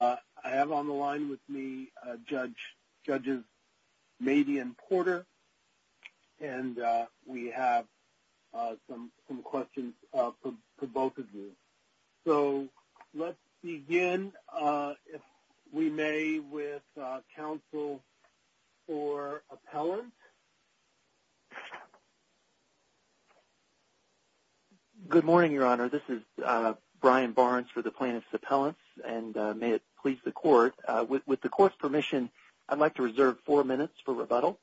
I have on the line with me Judges Mabee and Porter and we have some questions for both of you. So let's begin, if we may, with counsel for appellant. Good morning, Your Honor. This is Brian Barnes for the plaintiff's appellants and may it please the court, with the court's permission, I'd like to reserve four minutes for rebuttal.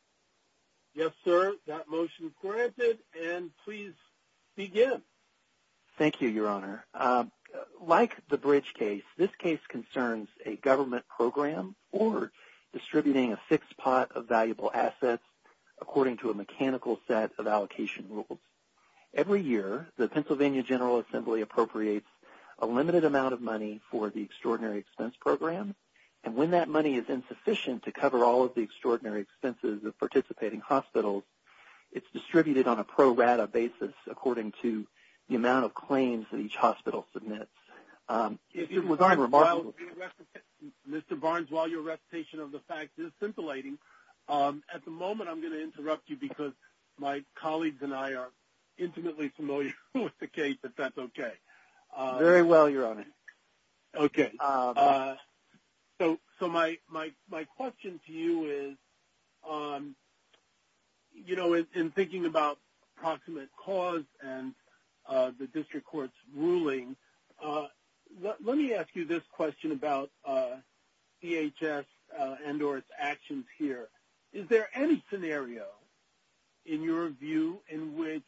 Yes, sir. That motion is granted and please begin. Thank you, Your Honor. Like the Bridge case, this case concerns a government program or distributing a fixed pot of valuable assets according to a mechanical set of allocation rules. Every year, the Pennsylvania General Assembly appropriates a limited amount of money for the Extraordinary Expense Program, and when that money is insufficient to cover all of the extraordinary expenses of participating hospitals, it's distributed on a pro rata basis according to the amount of claims that each hospital submits. Mr. Barnes, while your recitation of the facts is scintillating, at the moment I'm going to interrupt you because my colleagues and I are intimately familiar with the case, but that's okay. Very well, Your Honor. Okay. So my question to you is, you know, in thinking about proximate cause and the district court's ruling, let me ask you this question about DHS and or its actions here. Is there any scenario in your view in which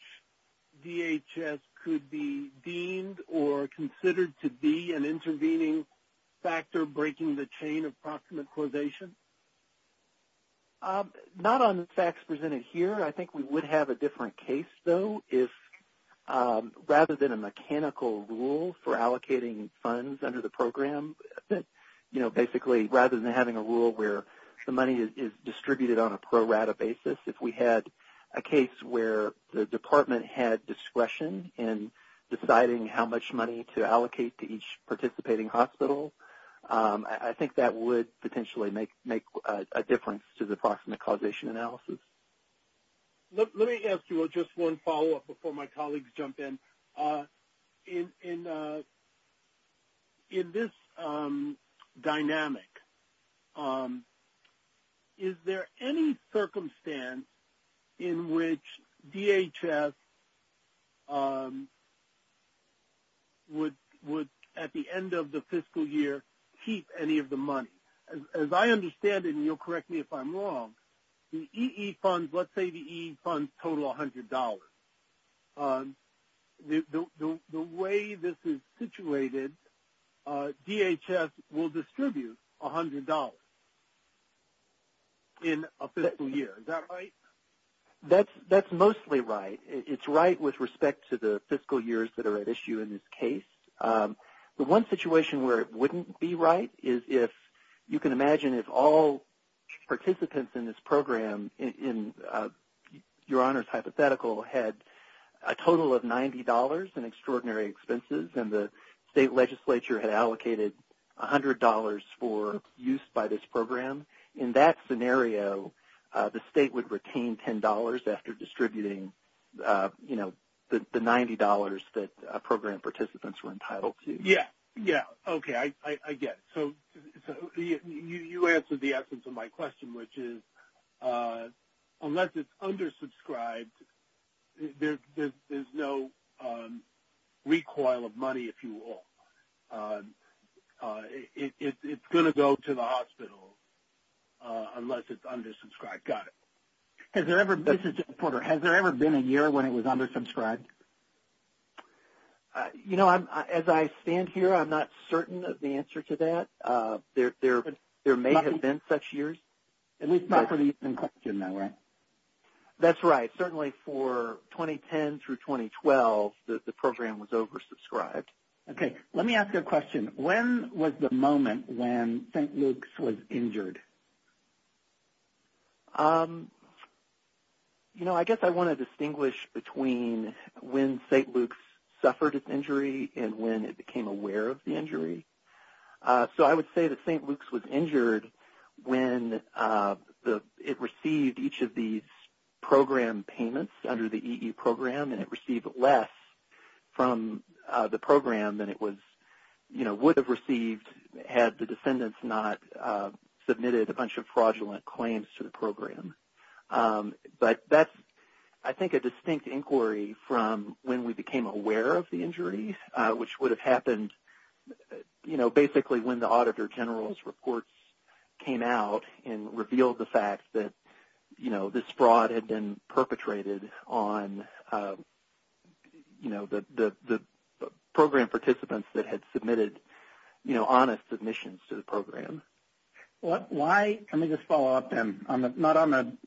DHS could be deemed or considered to be an intervening factor breaking the chain of proximate causation? Not on the facts presented here. I think we would have a different case, though. Rather than a mechanical rule for allocating funds under the program, you know, basically rather than having a rule where the money is distributed on a pro rata basis, if we had a case where the department had discretion in deciding how much money to allocate to each participating hospital, I think that would potentially make a difference to the proximate causation analysis. Let me ask you just one follow-up before my colleagues jump in. In this dynamic, is there any circumstance in which DHS would, at the end of the fiscal year, keep any of the money? As I understand it, and you'll correct me if I'm wrong, the EE funds, let's say the EE funds total $100. The way this is situated, DHS will distribute $100 in a fiscal year. Is that right? That's mostly right. It's right with respect to the fiscal years that are at issue in this case. The one situation where it wouldn't be right is if you can imagine if all participants in this program, in your Honor's hypothetical, had a total of $90 in extraordinary expenses and the state legislature had allocated $100 for use by this program, in that scenario the state would retain $10 after distributing, you know, the $90 that program participants were entitled to. Yes, okay, I get it. So you answered the essence of my question, which is unless it's undersubscribed, there's no recoil of money, if you will. It's going to go to the hospital unless it's undersubscribed. Got it. This is Jim Porter. Has there ever been a year when it was undersubscribed? You know, as I stand here, I'm not certain of the answer to that. There may have been such years. At least not for the evening question, though, right? That's right. Certainly for 2010 through 2012, the program was oversubscribed. Okay, let me ask you a question. When was the moment when St. Luke's was injured? You know, I guess I want to distinguish between when St. Luke's suffered an injury and when it became aware of the injury. So I would say that St. Luke's was injured when it received each of these program payments under the EE program, and it received less from the program than it would have received had the defendants not submitted a bunch of fraudulent claims to the program. But that's, I think, a distinct inquiry from when we became aware of the injury, which would have happened basically when the Auditor General's reports came out and revealed the fact that, you know, this fraud had been perpetrated on, you know, the program participants that had submitted, you know, honest submissions to the program. Let me just follow up then, not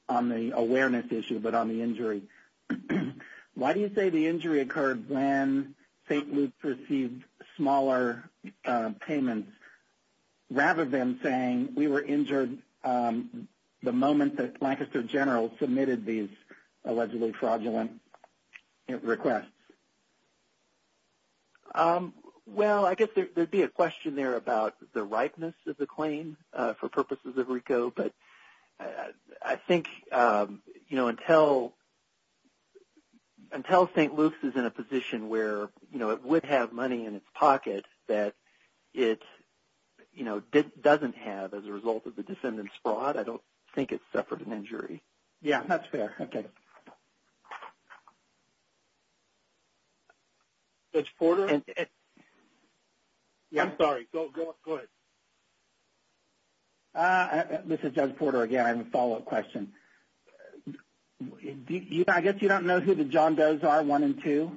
on the awareness issue but on the injury. Why do you say the injury occurred when St. Luke's received smaller payments rather than saying we were injured the moment that Lancaster General submitted these allegedly fraudulent requests? Well, I guess there would be a question there about the ripeness of the claim for purposes of RICO, but I think, you know, until St. Luke's is in a position where, you know, it would have money in its pocket that it, you know, doesn't have as a result of the defendant's fraud, I don't think it suffered an injury. Yeah, that's fair. Okay. Judge Porter? Yeah. I'm sorry. Go ahead. This is Judge Porter again. I have a follow-up question. I guess you don't know who the John Does are, one and two?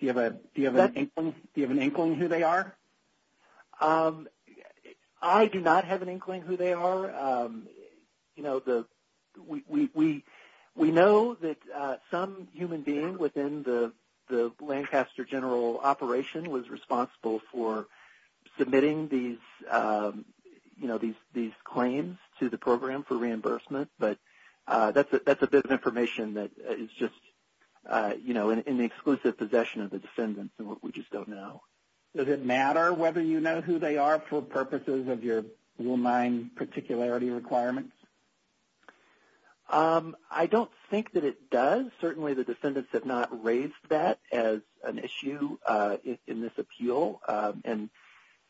Do you have an inkling who they are? I do not have an inkling who they are. You know, we know that some human being within the Lancaster General operation was responsible for submitting these claims to the program for reimbursement, but that's a bit of information that is just, you know, in the exclusive possession of the defendants and what we just don't know. Does it matter whether you know who they are for purposes of your blue line particularity requirements? I don't think that it does. Certainly the defendants have not raised that as an issue in this appeal.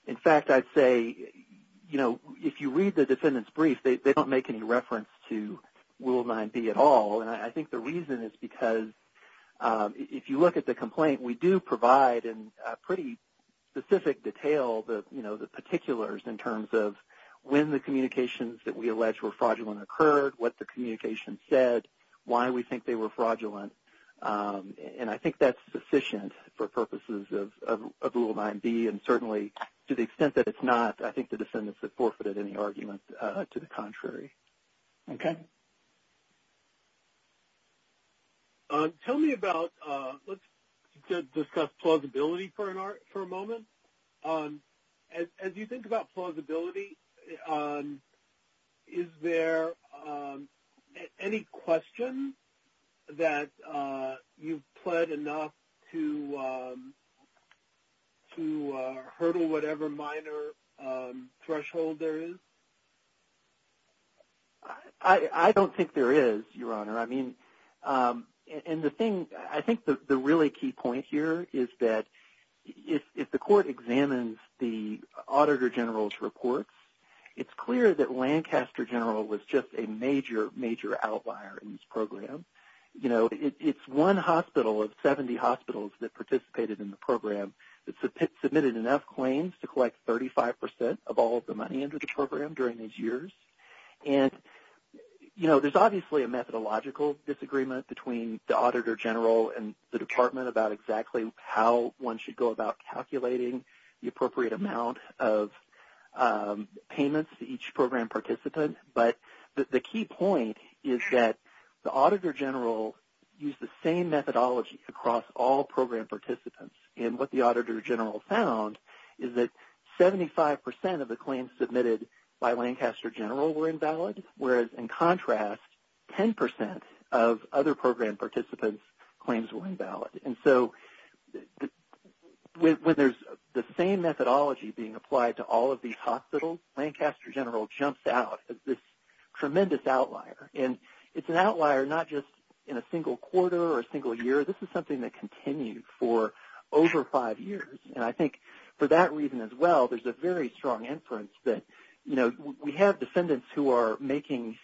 In fact, I'd say, you know, if you read the defendant's brief, they don't make any reference to Rule 9B at all, and I think the reason is because if you look at the complaint, we do provide in pretty specific detail, you know, the particulars in terms of when the communications that we allege were fraudulent occurred, what the communications said, why we think they were fraudulent, and I think that's sufficient for purposes of Rule 9B, and certainly to the extent that it's not, I think the defendants have forfeited any argument to the contrary. Okay. Tell me about, let's discuss plausibility for a moment. As you think about plausibility, is there any question that you've pled enough to hurdle whatever minor threshold there is? I don't think there is, Your Honor. I mean, and the thing, I think the really key point here is that if the court examines the Auditor General's reports, it's clear that Lancaster General was just a major, major outlier in this program. You know, it's one hospital of 70 hospitals that participated in the program that submitted enough claims to collect 35% of all of the money under the program during these years, and, you know, there's obviously a methodological disagreement between the Auditor General and the Department about exactly how one should go about calculating the appropriate amount of payments to each program participant, but the key point is that the Auditor General used the same methodology across all program participants, and what the Auditor General found is that 75% of the claims submitted by Lancaster General were invalid, whereas in contrast, 10% of other program participants' claims were invalid. And so when there's the same methodology being applied to all of these hospitals, Lancaster General jumps out as this tremendous outlier, and it's an outlier not just in a single quarter or a single year. This is something that continued for over five years, and I think for that reason as well, there's a very strong inference that, you know, we have defendants who are making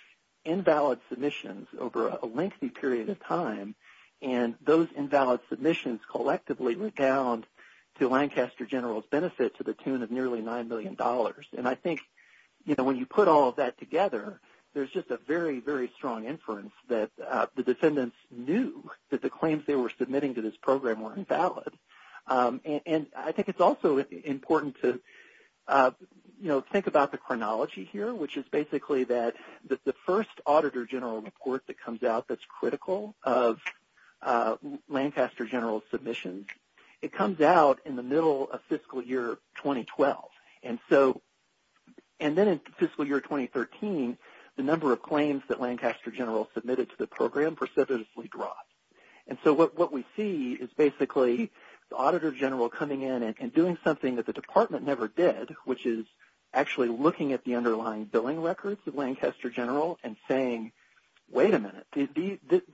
invalid submissions over a lengthy period of time, and those invalid submissions collectively rebound to Lancaster General's benefit to the tune of nearly $9 million. And I think, you know, when you put all of that together, there's just a very, very strong inference that the defendants knew that the claims they were submitting to this program were invalid. And I think it's also important to, you know, think about the chronology here, which is basically that the first Auditor General report that comes out that's critical of Lancaster General's submissions, it comes out in the middle of fiscal year 2012. And then in fiscal year 2013, the number of claims that Lancaster General submitted to the program precipitously drops. And so what we see is basically the Auditor General coming in and doing something that the department never did, which is actually looking at the underlying billing records of Lancaster General and saying, wait a minute,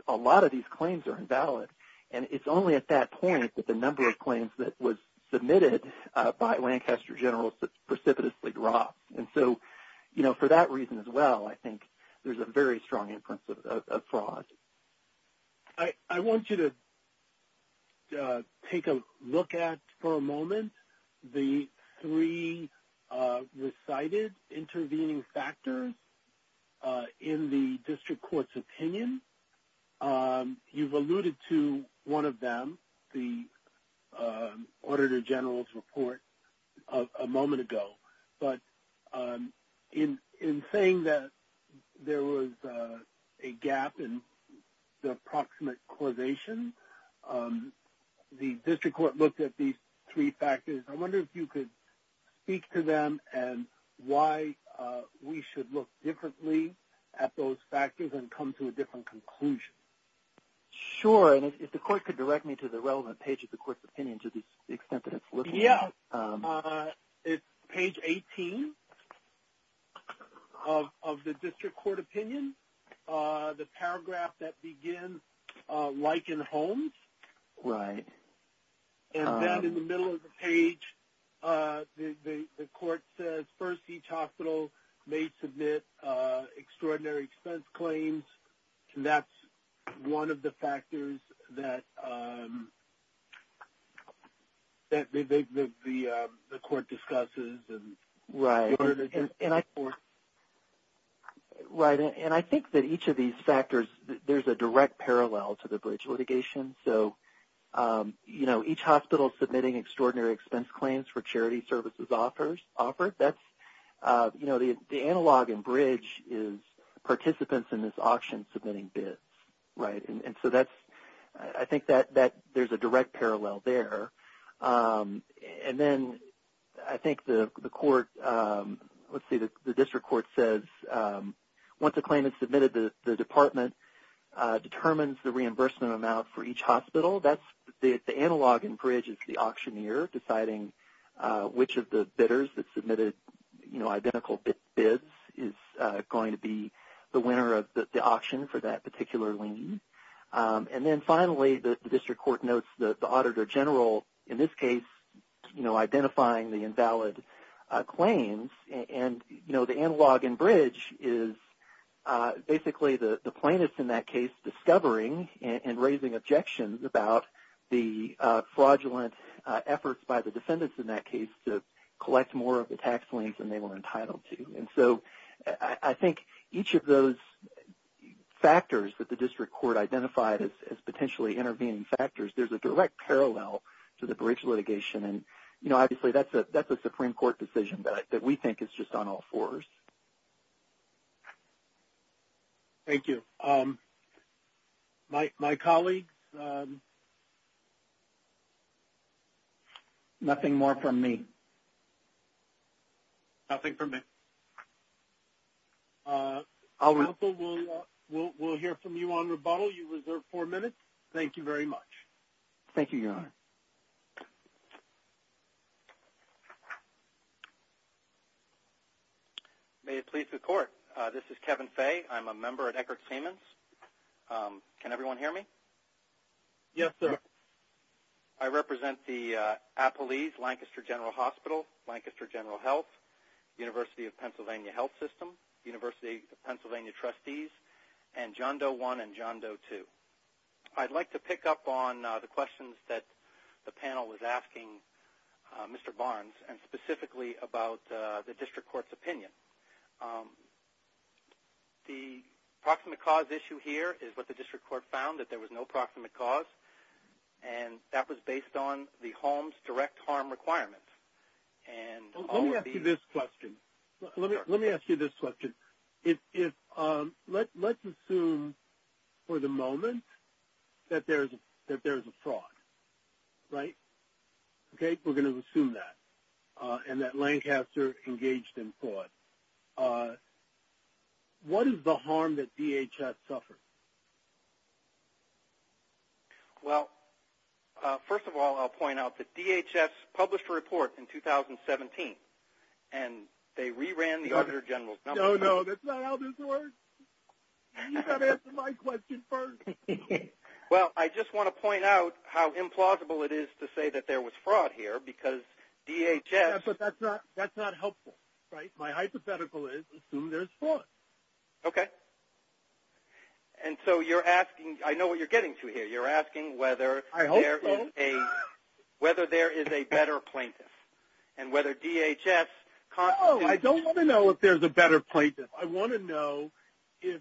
a lot of these claims are invalid. And it's only at that point that the number of claims that was submitted by Lancaster General precipitously drops. And so, you know, for that reason as well, I think there's a very strong inference of fraud. I want you to take a look at for a moment the three recited intervening factors in the district court's opinion. You've alluded to one of them, the Auditor General's report, a moment ago. But in saying that there was a gap in the approximate causation, the district court looked at these three factors. I wonder if you could speak to them and why we should look differently at those factors and come to a different conclusion. Sure. And if the court could direct me to the relevant page of the court's opinion to the extent that it's listed. Yeah. It's page 18 of the district court opinion, the paragraph that begins, like in Holmes. Right. And then in the middle of the page, the court says, first, each hospital may submit extraordinary expense claims. And that's one of the factors that the court discusses. Right. And I think that each of these factors, there's a direct parallel to the bridge litigation. So, you know, each hospital submitting extraordinary expense claims for charity services offered, that's, you know, the analog in bridge is participants in this auction submitting bids. Right. And so that's, I think that there's a direct parallel there. And then I think the court, let's see, the district court says, once a claim is submitted, the department determines the reimbursement amount for each hospital. That's the analog in bridge is the auctioneer deciding which of the bidders that submitted, you know, identical bids is going to be the winner of the auction for that particular lien. And then finally, the district court notes the auditor general, in this case, you know, identifying the invalid claims. And, you know, the analog in bridge is basically the plaintiffs, in that case, discovering and raising objections about the fraudulent efforts by the defendants, in that case, to collect more of the tax liens than they were entitled to. And so I think each of those factors that the district court identified as potentially intervening factors, there's a direct parallel to the bridge litigation. And, you know, obviously that's a Supreme Court decision that we think is just on all fours. Thank you. My colleagues? Nothing more from me. Nothing from me. Counsel, we'll hear from you on rebuttal. You reserve four minutes. Thank you very much. Thank you, Your Honor. May it please the Court. This is Kevin Fay. I'm a member at Eckerd Samans. Can everyone hear me? Yes, sir. I represent the Appalese Lancaster General Hospital, Lancaster General Health, University of Pennsylvania Health System, University of Pennsylvania Trustees, and John Doe I and John Doe II. I'd like to pick up on the questions that the panel was asking Mr. Barnes, and specifically about the district court's opinion. The proximate cause issue here is what the district court found, that there was no proximate cause, and that was based on the home's direct harm requirements. Let me ask you this question. Let me ask you this question. Let's assume for the moment that there is a fraud, right? Okay, we're going to assume that, and that Lancaster engaged in fraud. What is the harm that DHS suffered? Well, first of all, I'll point out that DHS published a report in 2017, and they re-ran the Auditor General's number. No, no, that's not how this works. You've got to answer my question first. Well, I just want to point out how implausible it is to say that there was fraud here, because DHS. Yeah, but that's not helpful, right? My hypothetical is, assume there's fraud. Okay. And so you're asking, I know what you're getting to here. You're asking whether there is a better plaintiff, and whether DHS constitutes. No, I don't want to know if there's a better plaintiff. I want to know if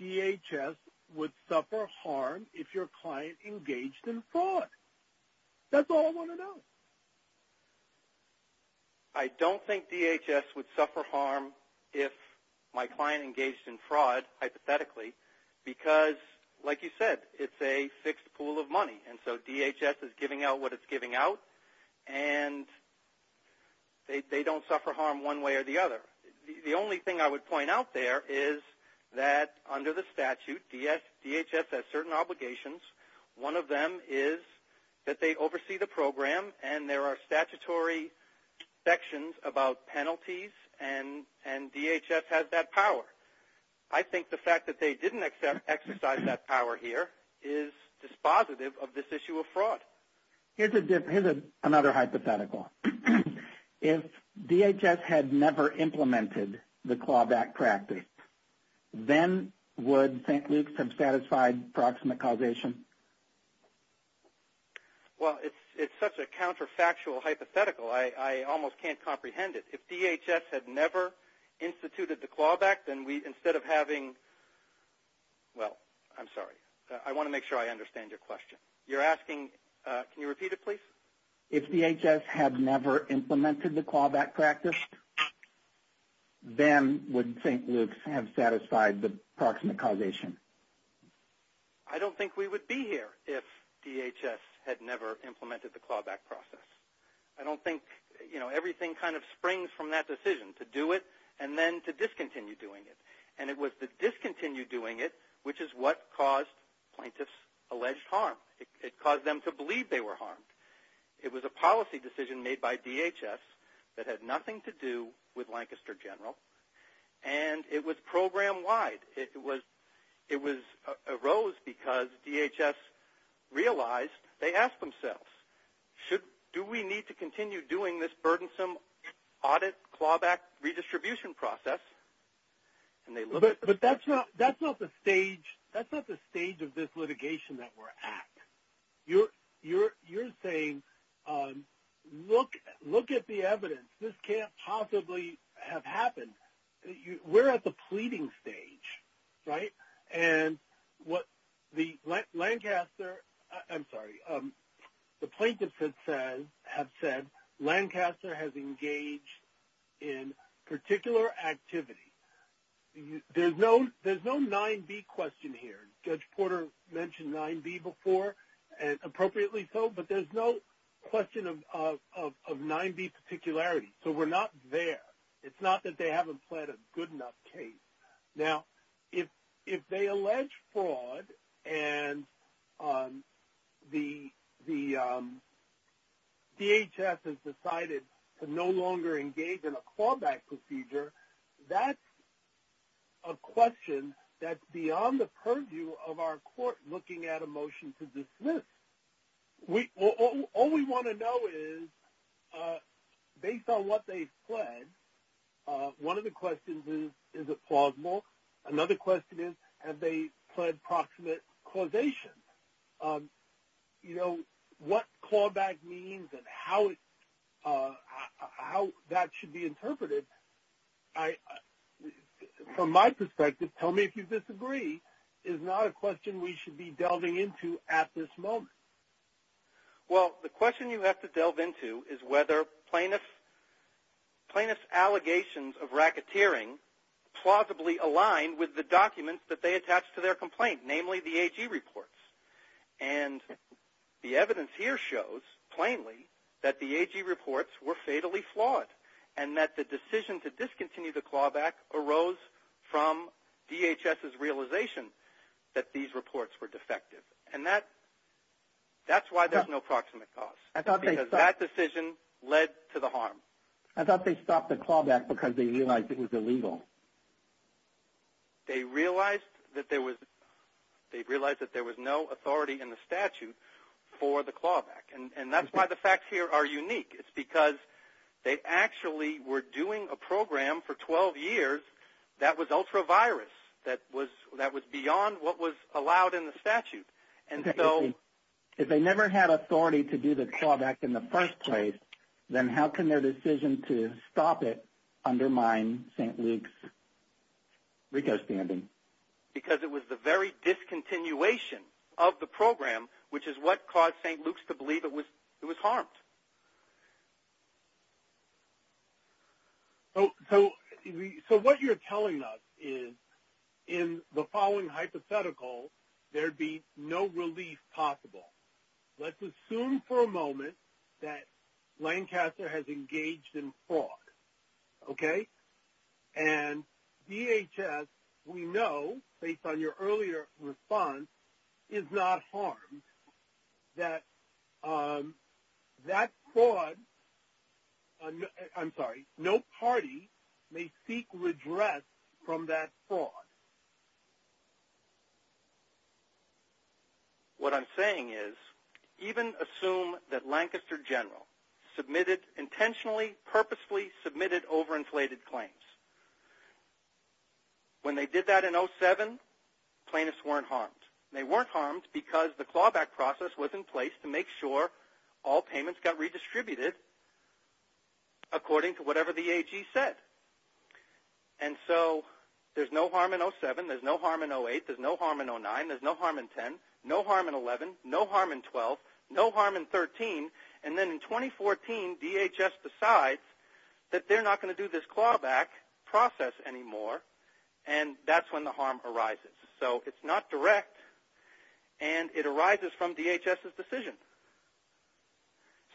DHS would suffer harm if your client engaged in fraud. That's all I want to know. I don't think DHS would suffer harm if my client engaged in fraud, hypothetically, because, like you said, it's a fixed pool of money, and so DHS is giving out what it's giving out, and they don't suffer harm one way or the other. The only thing I would point out there is that under the statute, DHS has certain obligations. One of them is that they oversee the program, and there are statutory sections about penalties, and DHS has that power. I think the fact that they didn't exercise that power here is dispositive of this issue of fraud. Here's another hypothetical. If DHS had never implemented the clawback practice, then would St. Luke's have satisfied proximate causation? Well, it's such a counterfactual hypothetical, I almost can't comprehend it. If DHS had never instituted the clawback, then instead of having – well, I'm sorry. I want to make sure I understand your question. You're asking – can you repeat it, please? If DHS had never implemented the clawback practice, then would St. Luke's have satisfied the proximate causation? I don't think we would be here if DHS had never implemented the clawback process. I don't think – you know, everything kind of springs from that decision, to do it and then to discontinue doing it. And it was the discontinue doing it which is what caused plaintiffs' alleged harm. It caused them to believe they were harmed. It was a policy decision made by DHS that had nothing to do with Lancaster General, and it was program-wide. It arose because DHS realized – they asked themselves, do we need to continue doing this burdensome audit, clawback, redistribution process? But that's not the stage of this litigation that we're at. You're saying, look at the evidence. This can't possibly have happened. We're at the pleading stage, right? And what the Lancaster – I'm sorry. The plaintiffs have said Lancaster has engaged in particular activity. There's no 9B question here. Judge Porter mentioned 9B before, and appropriately so, but there's no question of 9B particularity. So we're not there. It's not that they haven't pled a good enough case. Now, if they allege fraud and the DHS has decided to no longer engage in a clawback procedure, that's a question that's beyond the purview of our court looking at a motion to dismiss. All we want to know is, based on what they've pled, one of the questions is, is it plausible? Another question is, have they pled proximate causation? You know, what clawback means and how that should be interpreted, from my perspective, and tell me if you disagree, is not a question we should be delving into at this moment. Well, the question you have to delve into is whether plaintiffs' allegations of racketeering plausibly aligned with the documents that they attached to their complaint, namely the AG reports. And the evidence here shows, plainly, that the AG reports were fatally flawed and that the decision to discontinue the clawback arose from DHS's realization that these reports were defective. And that's why there's no proximate cause, because that decision led to the harm. I thought they stopped the clawback because they realized it was illegal. They realized that there was no authority in the statute for the clawback. And that's why the facts here are unique. It's because they actually were doing a program for 12 years that was ultra-virus, that was beyond what was allowed in the statute. And so if they never had authority to do the clawback in the first place, then how can their decision to stop it undermine St. Luke's RICO standing? Because it was the very discontinuation of the program, which is what caused St. Luke's to believe it was harmed. So what you're telling us is, in the following hypothetical, there'd be no relief possible. Let's assume for a moment that Lancaster has engaged in fraud, okay? And DHS, we know, based on your earlier response, is not harmed. That that fraud, I'm sorry, no party may seek redress from that fraud. What I'm saying is, even assume that Lancaster General submitted intentionally, purposefully submitted overinflated claims. When they did that in 07, plaintiffs weren't harmed. They weren't harmed because the clawback process was in place to make sure all payments got redistributed according to whatever the AG said. And so there's no harm in 07. There's no harm in 08. There's no harm in 09. There's no harm in 10. No harm in 11. No harm in 12. No harm in 13. And then in 2014, DHS decides that they're not going to do this clawback process anymore, and that's when the harm arises. So it's not direct, and it arises from DHS's decision.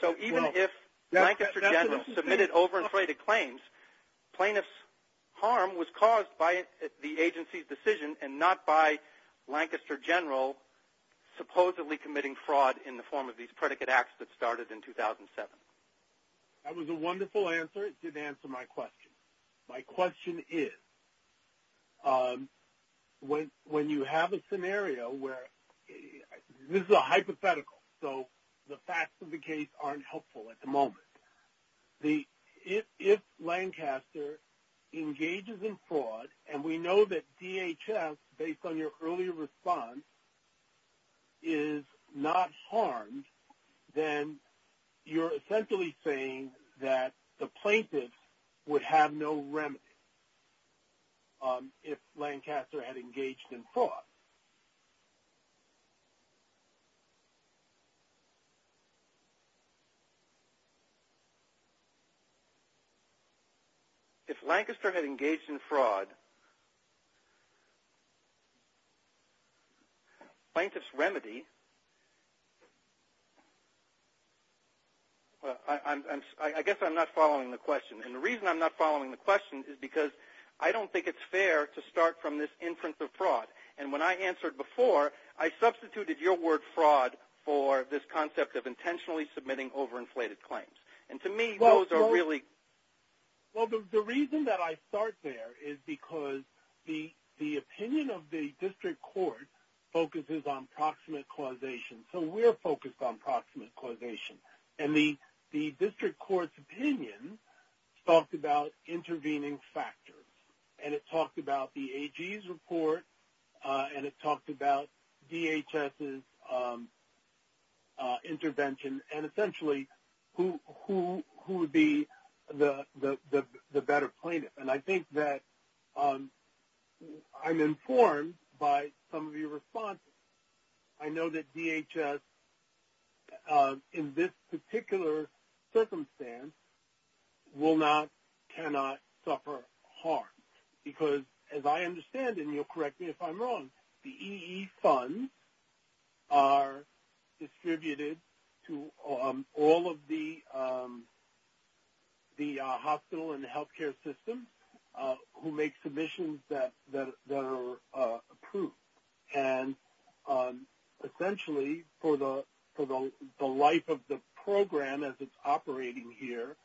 So even if Lancaster General submitted overinflated claims, plaintiff's harm was caused by the agency's decision and not by Lancaster General supposedly committing fraud in the form of these predicate acts that started in 2007. That was a wonderful answer. It did answer my question. My question is, when you have a scenario where this is a hypothetical, so the facts of the case aren't helpful at the moment, if Lancaster engages in fraud, and we know that DHS, based on your earlier response, is not harmed, then you're essentially saying that the plaintiffs would have no remedy if Lancaster had engaged in fraud. If Lancaster had engaged in fraud, plaintiff's remedy – I guess I'm not following the question. And the reason I'm not following the question is because I don't think it's fair to start from this inference of fraud. I substituted your word fraud for this concept of intentionally submitting overinflated claims. And to me, those are really – Well, the reason that I start there is because the opinion of the district court focuses on proximate causation. So we're focused on proximate causation. And the district court's opinion talked about intervening factors. And it talked about the AG's report, and it talked about DHS's intervention, and essentially who would be the better plaintiff. And I think that I'm informed by some of your responses. I know that DHS, in this particular circumstance, will not, cannot suffer harm. Because, as I understand, and you'll correct me if I'm wrong, the EE funds are distributed to all of the hospital and healthcare systems who make submissions that are approved. And essentially, for the life of the program as it's operating here,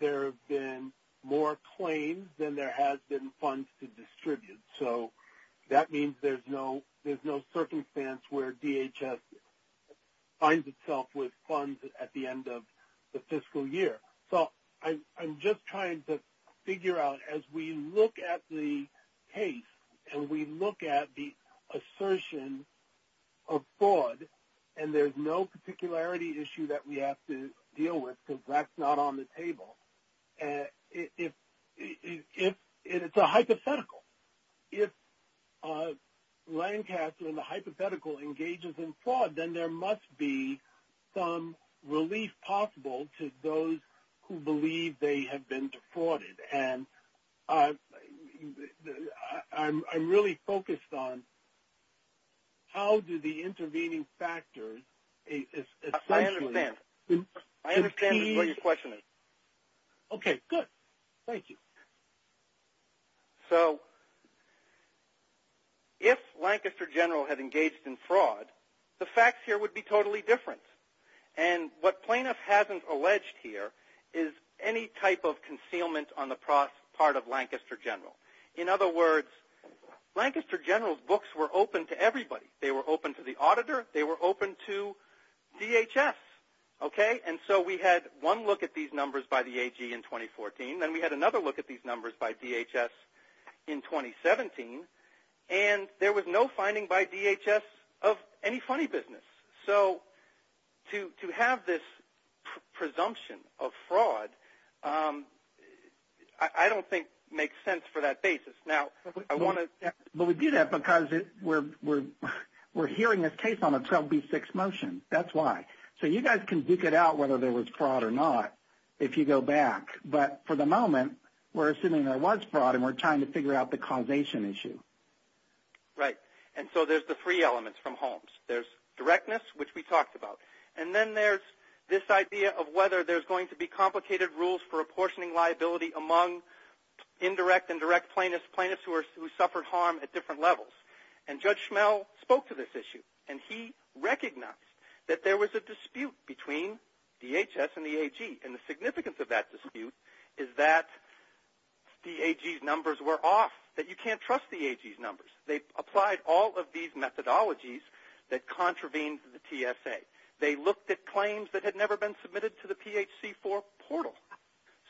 there have been more claims than there has been funds to distribute. So that means there's no circumstance where DHS finds itself with funds at the end of the fiscal year. So I'm just trying to figure out, as we look at the case and we look at the assertion of fraud, and there's no particularity issue that we have to deal with because that's not on the table, it's a hypothetical. If Lancaster and the hypothetical engages in fraud, then there must be some relief possible to those who believe they have been defrauded. And I'm really focused on how do the intervening factors essentially... I understand. I understand what your question is. Okay, good. Thank you. So if Lancaster General had engaged in fraud, the facts here would be totally different. And what Planoff hasn't alleged here is any type of concealment on the part of Lancaster General. In other words, Lancaster General's books were open to everybody. They were open to the auditor. They were open to DHS, okay? And so we had one look at these numbers by the AG in 2014. Then we had another look at these numbers by DHS in 2017. And there was no finding by DHS of any funny business. So to have this presumption of fraud I don't think makes sense for that basis. Now, I want to... But we do that because we're hearing this case on a 12B6 motion. That's why. So you guys can duke it out whether there was fraud or not if you go back. But for the moment we're assuming there was fraud and we're trying to figure out the causation issue. Right. And so there's the three elements from Holmes. There's directness, which we talked about. And then there's this idea of whether there's going to be complicated rules for apportioning liability among indirect and direct plaintiffs, plaintiffs who suffered harm at different levels. And Judge Schmell spoke to this issue. And he recognized that there was a dispute between DHS and the AG. And the significance of that dispute is that the AG's numbers were off, that you can't trust the AG's numbers. They applied all of these methodologies that contravened the TSA. They looked at claims that had never been submitted to the PHC4 portal.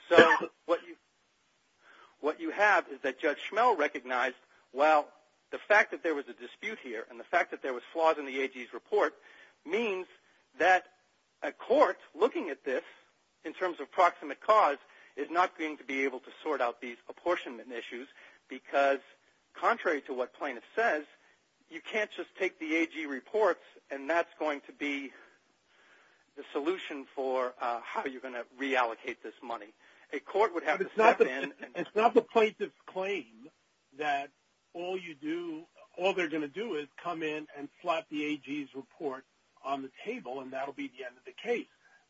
So what you have is that Judge Schmell recognized, well, the fact that there was a dispute here and the fact that there was flaws in the AG's report means that a court looking at this in terms of proximate cause is not going to be able to sort out these apportionment issues because contrary to what plaintiff says, you can't just take the AG reports and that's going to be the solution for how you're going to reallocate this money. A court would have to step in. It's not the plaintiff's claim that all they're going to do is come in and slap the AG's report on the table and that will be the end of the case.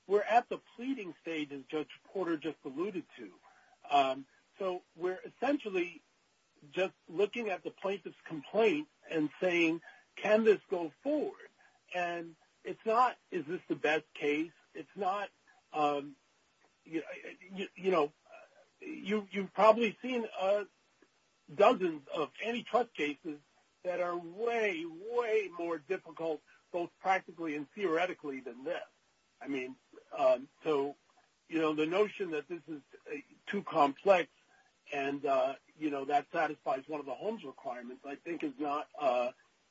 We're at the pleading stage, as Judge Porter just alluded to. So we're essentially just looking at the plaintiff's complaint and saying, can this go forward? And it's not, is this the best case? It's not, you know, you've probably seen dozens of antitrust cases that are way, way more difficult both practically and theoretically than this. I mean, so, you know, the notion that this is too complex and, you know, that satisfies one of the Holmes requirements I think is not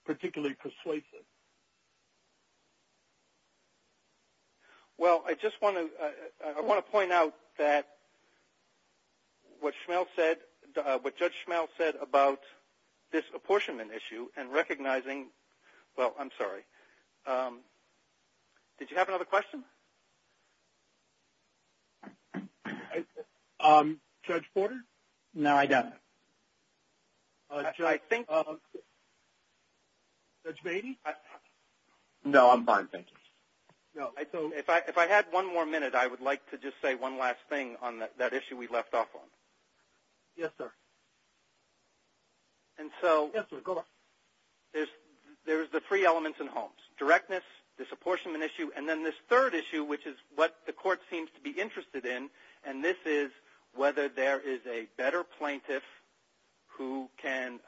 particularly persuasive. Well, I just want to point out that what Judge Schmell said about this apportionment issue and recognizing, well, I'm sorry, did you have another question? No. Judge Porter? No, I don't. Judge Beatty? No, I'm fine, thank you. If I had one more minute, I would like to just say one last thing on that issue we left off on. Yes, sir. And so there's the three elements in Holmes, directness, this apportionment issue, and then this third issue, which is what the court seems to be interested in, and this is whether there is a better plaintiff who can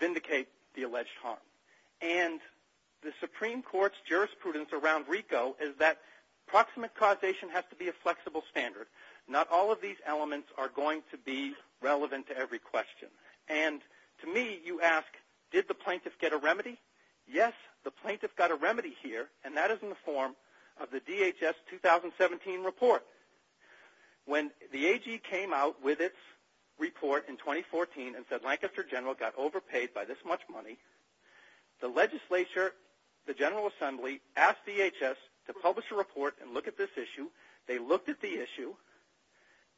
vindicate the alleged harm. And the Supreme Court's jurisprudence around RICO is that proximate causation has to be a flexible standard. Not all of these elements are going to be relevant to every question. And to me, you ask, did the plaintiff get a remedy? Yes, the plaintiff got a remedy here, and that is in the form of the DHS 2017 report. When the AG came out with its report in 2014 and said Lancaster General got overpaid by this much money, the legislature, the General Assembly, asked DHS to publish a report and look at this issue. They looked at the issue.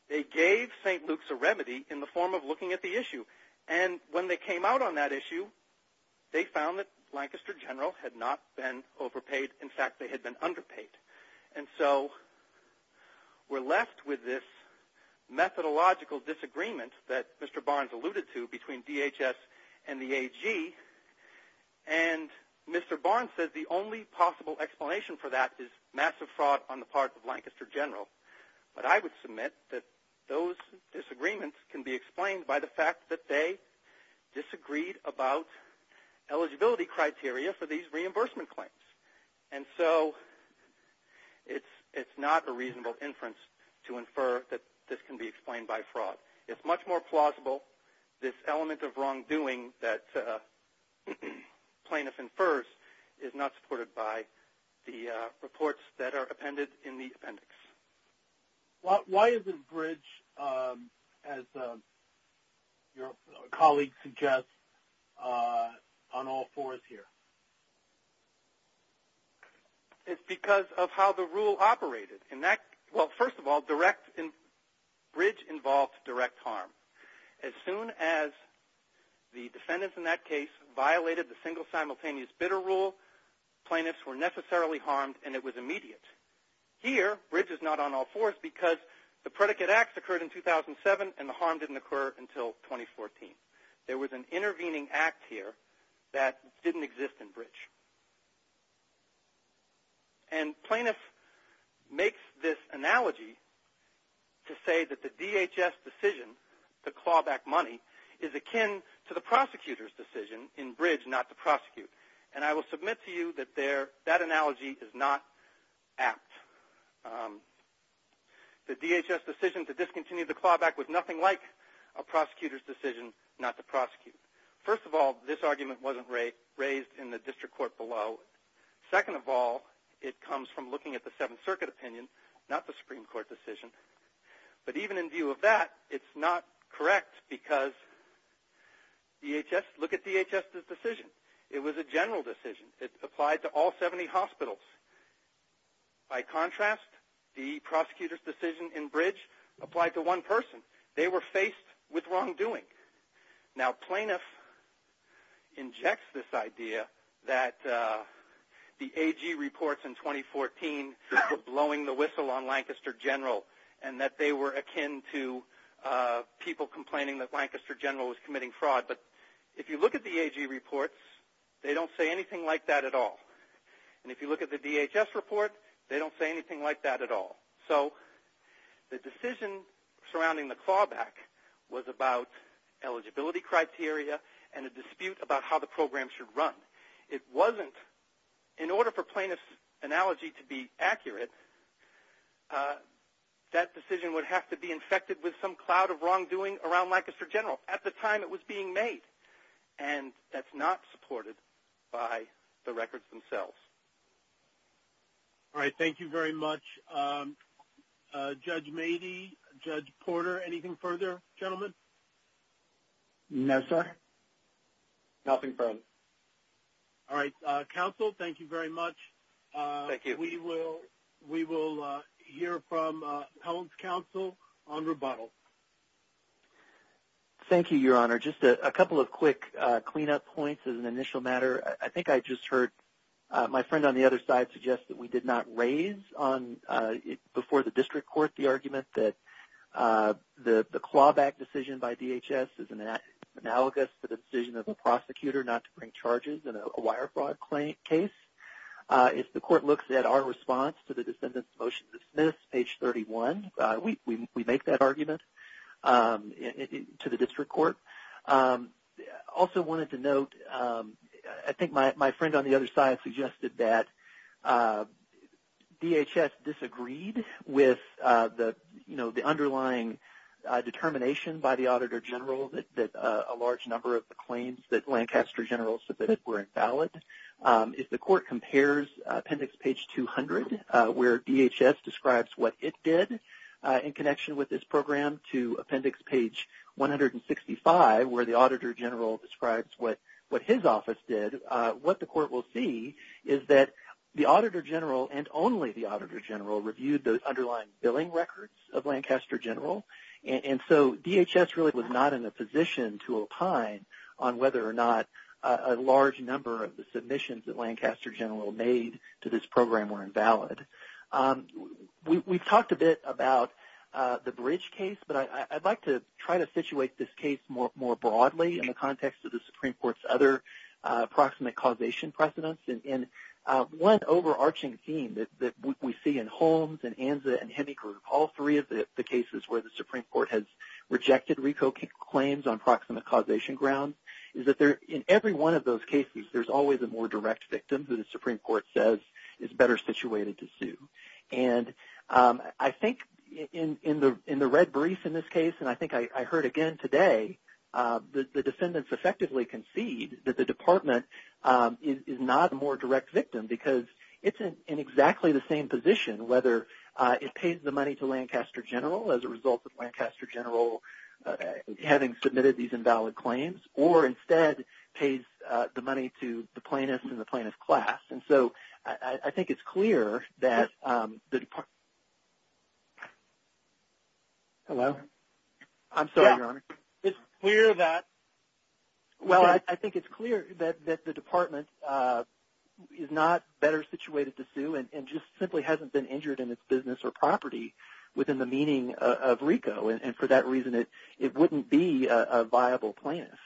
They gave St. Luke's a remedy in the form of looking at the issue. And when they came out on that issue, they found that Lancaster General had not been overpaid. In fact, they had been underpaid. And so we're left with this methodological disagreement that Mr. Barnes alluded to between DHS and the AG, and Mr. Barnes says the only possible explanation for that is massive fraud on the part of Lancaster General. But I would submit that those disagreements can be explained by the fact that they disagreed about eligibility criteria for these reimbursement claims. And so it's not a reasonable inference to infer that this can be explained by fraud. It's much more plausible, this element of wrongdoing that plaintiff infers, is not supported by the reports that are appended in the appendix. Why is this bridge, as your colleague suggests, on all fours here? It's because of how the rule operated. Well, first of all, bridge involved direct harm. As soon as the defendants in that case violated the single simultaneous bidder rule, plaintiffs were necessarily harmed and it was immediate. Here, bridge is not on all fours because the predicate acts occurred in 2007 and the harm didn't occur until 2014. There was an intervening act here that didn't exist in bridge. And plaintiff makes this analogy to say that the DHS decision to claw back money is akin to the prosecutor's decision in bridge not to prosecute. And I will submit to you that that analogy is not apt. The DHS decision to discontinue the clawback was nothing like a prosecutor's decision not to prosecute. First of all, this argument wasn't raised in the district court below. Second of all, it comes from looking at the Seventh Circuit opinion, not the Supreme Court decision. But even in view of that, it's not correct because look at DHS's decision. It was a general decision. It applied to all 70 hospitals. By contrast, the prosecutor's decision in bridge applied to one person. They were faced with wrongdoing. Now, plaintiff injects this idea that the AG reports in 2014 were blowing the whistle on Lancaster General and that they were akin to people complaining that Lancaster General was committing fraud. But if you look at the AG reports, they don't say anything like that at all. And if you look at the DHS report, they don't say anything like that at all. So the decision surrounding the clawback was about eligibility criteria and a dispute about how the program should run. It wasn't in order for plaintiff's analogy to be accurate, that decision would have to be infected with some cloud of wrongdoing around Lancaster General. At the time, it was being made, and that's not supported by the records themselves. All right. Thank you very much. Judge Mady, Judge Porter, anything further, gentlemen? No, sir. Nothing further. All right. Counsel, thank you very much. Thank you. We will hear from Helen's counsel on rebuttal. Thank you, Your Honor. Just a couple of quick cleanup points as an initial matter. I think I just heard my friend on the other side suggest that we did not raise before the district court the argument that the clawback decision by DHS is analogous to the decision of a prosecutor not to bring charges in a wire fraud case. If the court looks at our response to the descendant's motion to dismiss, page 31, we make that argument to the district court. Also wanted to note, I think my friend on the other side suggested that DHS disagreed with the underlying determination by the Auditor General that a large number of the claims that Lancaster General submitted were invalid. If the court compares appendix page 200, where DHS describes what it did in connection with this program, to appendix page 165, where the Auditor General describes what his office did, what the court will see is that the Auditor General and only the Auditor General reviewed those underlying billing records of Lancaster General, and so DHS really was not in a position to opine on whether or not a large number of the submissions that Lancaster General made to this program were invalid. We've talked a bit about the Bridge case, but I'd like to try to situate this case more broadly in the context of the Supreme Court's other proximate causation precedents. One overarching theme that we see in Holmes and Anza and Hemingway, all three of the cases where the Supreme Court has rejected RICO claims on proximate causation grounds, is that in every one of those cases there's always a more direct victim who the Supreme Court says is better situated to sue. I think in the red brief in this case, and I think I heard again today, the defendants effectively concede that the department is not a more direct victim because it's in exactly the same position, whether it pays the money to Lancaster General as a result of Lancaster General having submitted these invalid claims, or instead pays the money to the plaintiff and the plaintiff's class. So I think it's clear that the department is not better situated to sue and just simply hasn't been injured in its business or property within the meaning of RICO, and for that reason it wouldn't be a viable plaintiff.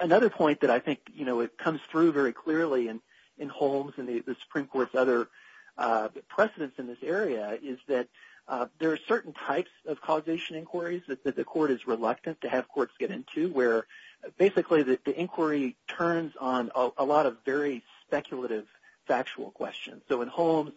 Another point that I think comes through very clearly in Holmes and the Supreme Court's other precedents in this area is that there are certain types of causation inquiries that the court is reluctant to have courts get into, where basically the inquiry turns on a lot of very speculative factual questions. So in Holmes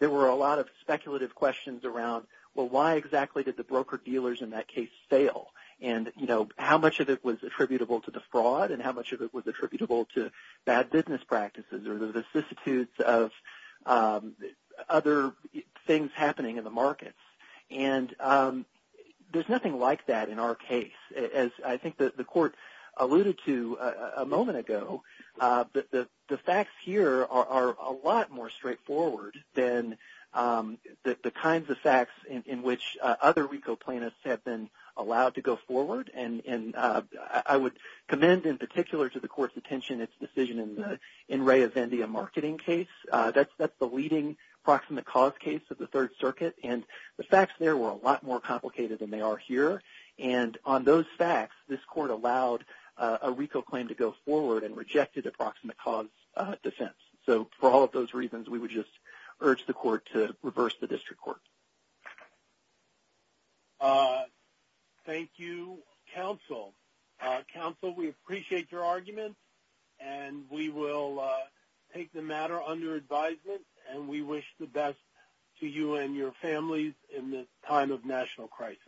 there were a lot of speculative questions around, well, why exactly did the broker-dealers in that case fail? And how much of it was attributable to the fraud and how much of it was attributable to bad business practices or the vicissitudes of other things happening in the markets? And there's nothing like that in our case. As I think the court alluded to a moment ago, the facts here are a lot more straightforward than the kinds of facts in which other RICO plaintiffs have been allowed to go forward, and I would commend in particular to the court's attention its decision in Ray Avendia marketing case. That's the leading proximate cause case of the Third Circuit, and the facts there were a lot more complicated than they are here, and on those facts this court allowed a RICO claim to go forward and rejected a proximate cause defense. So for all of those reasons, we would just urge the court to reverse the district court. Thank you, counsel. Counsel, we appreciate your argument, and we will take the matter under advisement, and we wish the best to you and your families in this time of national crisis.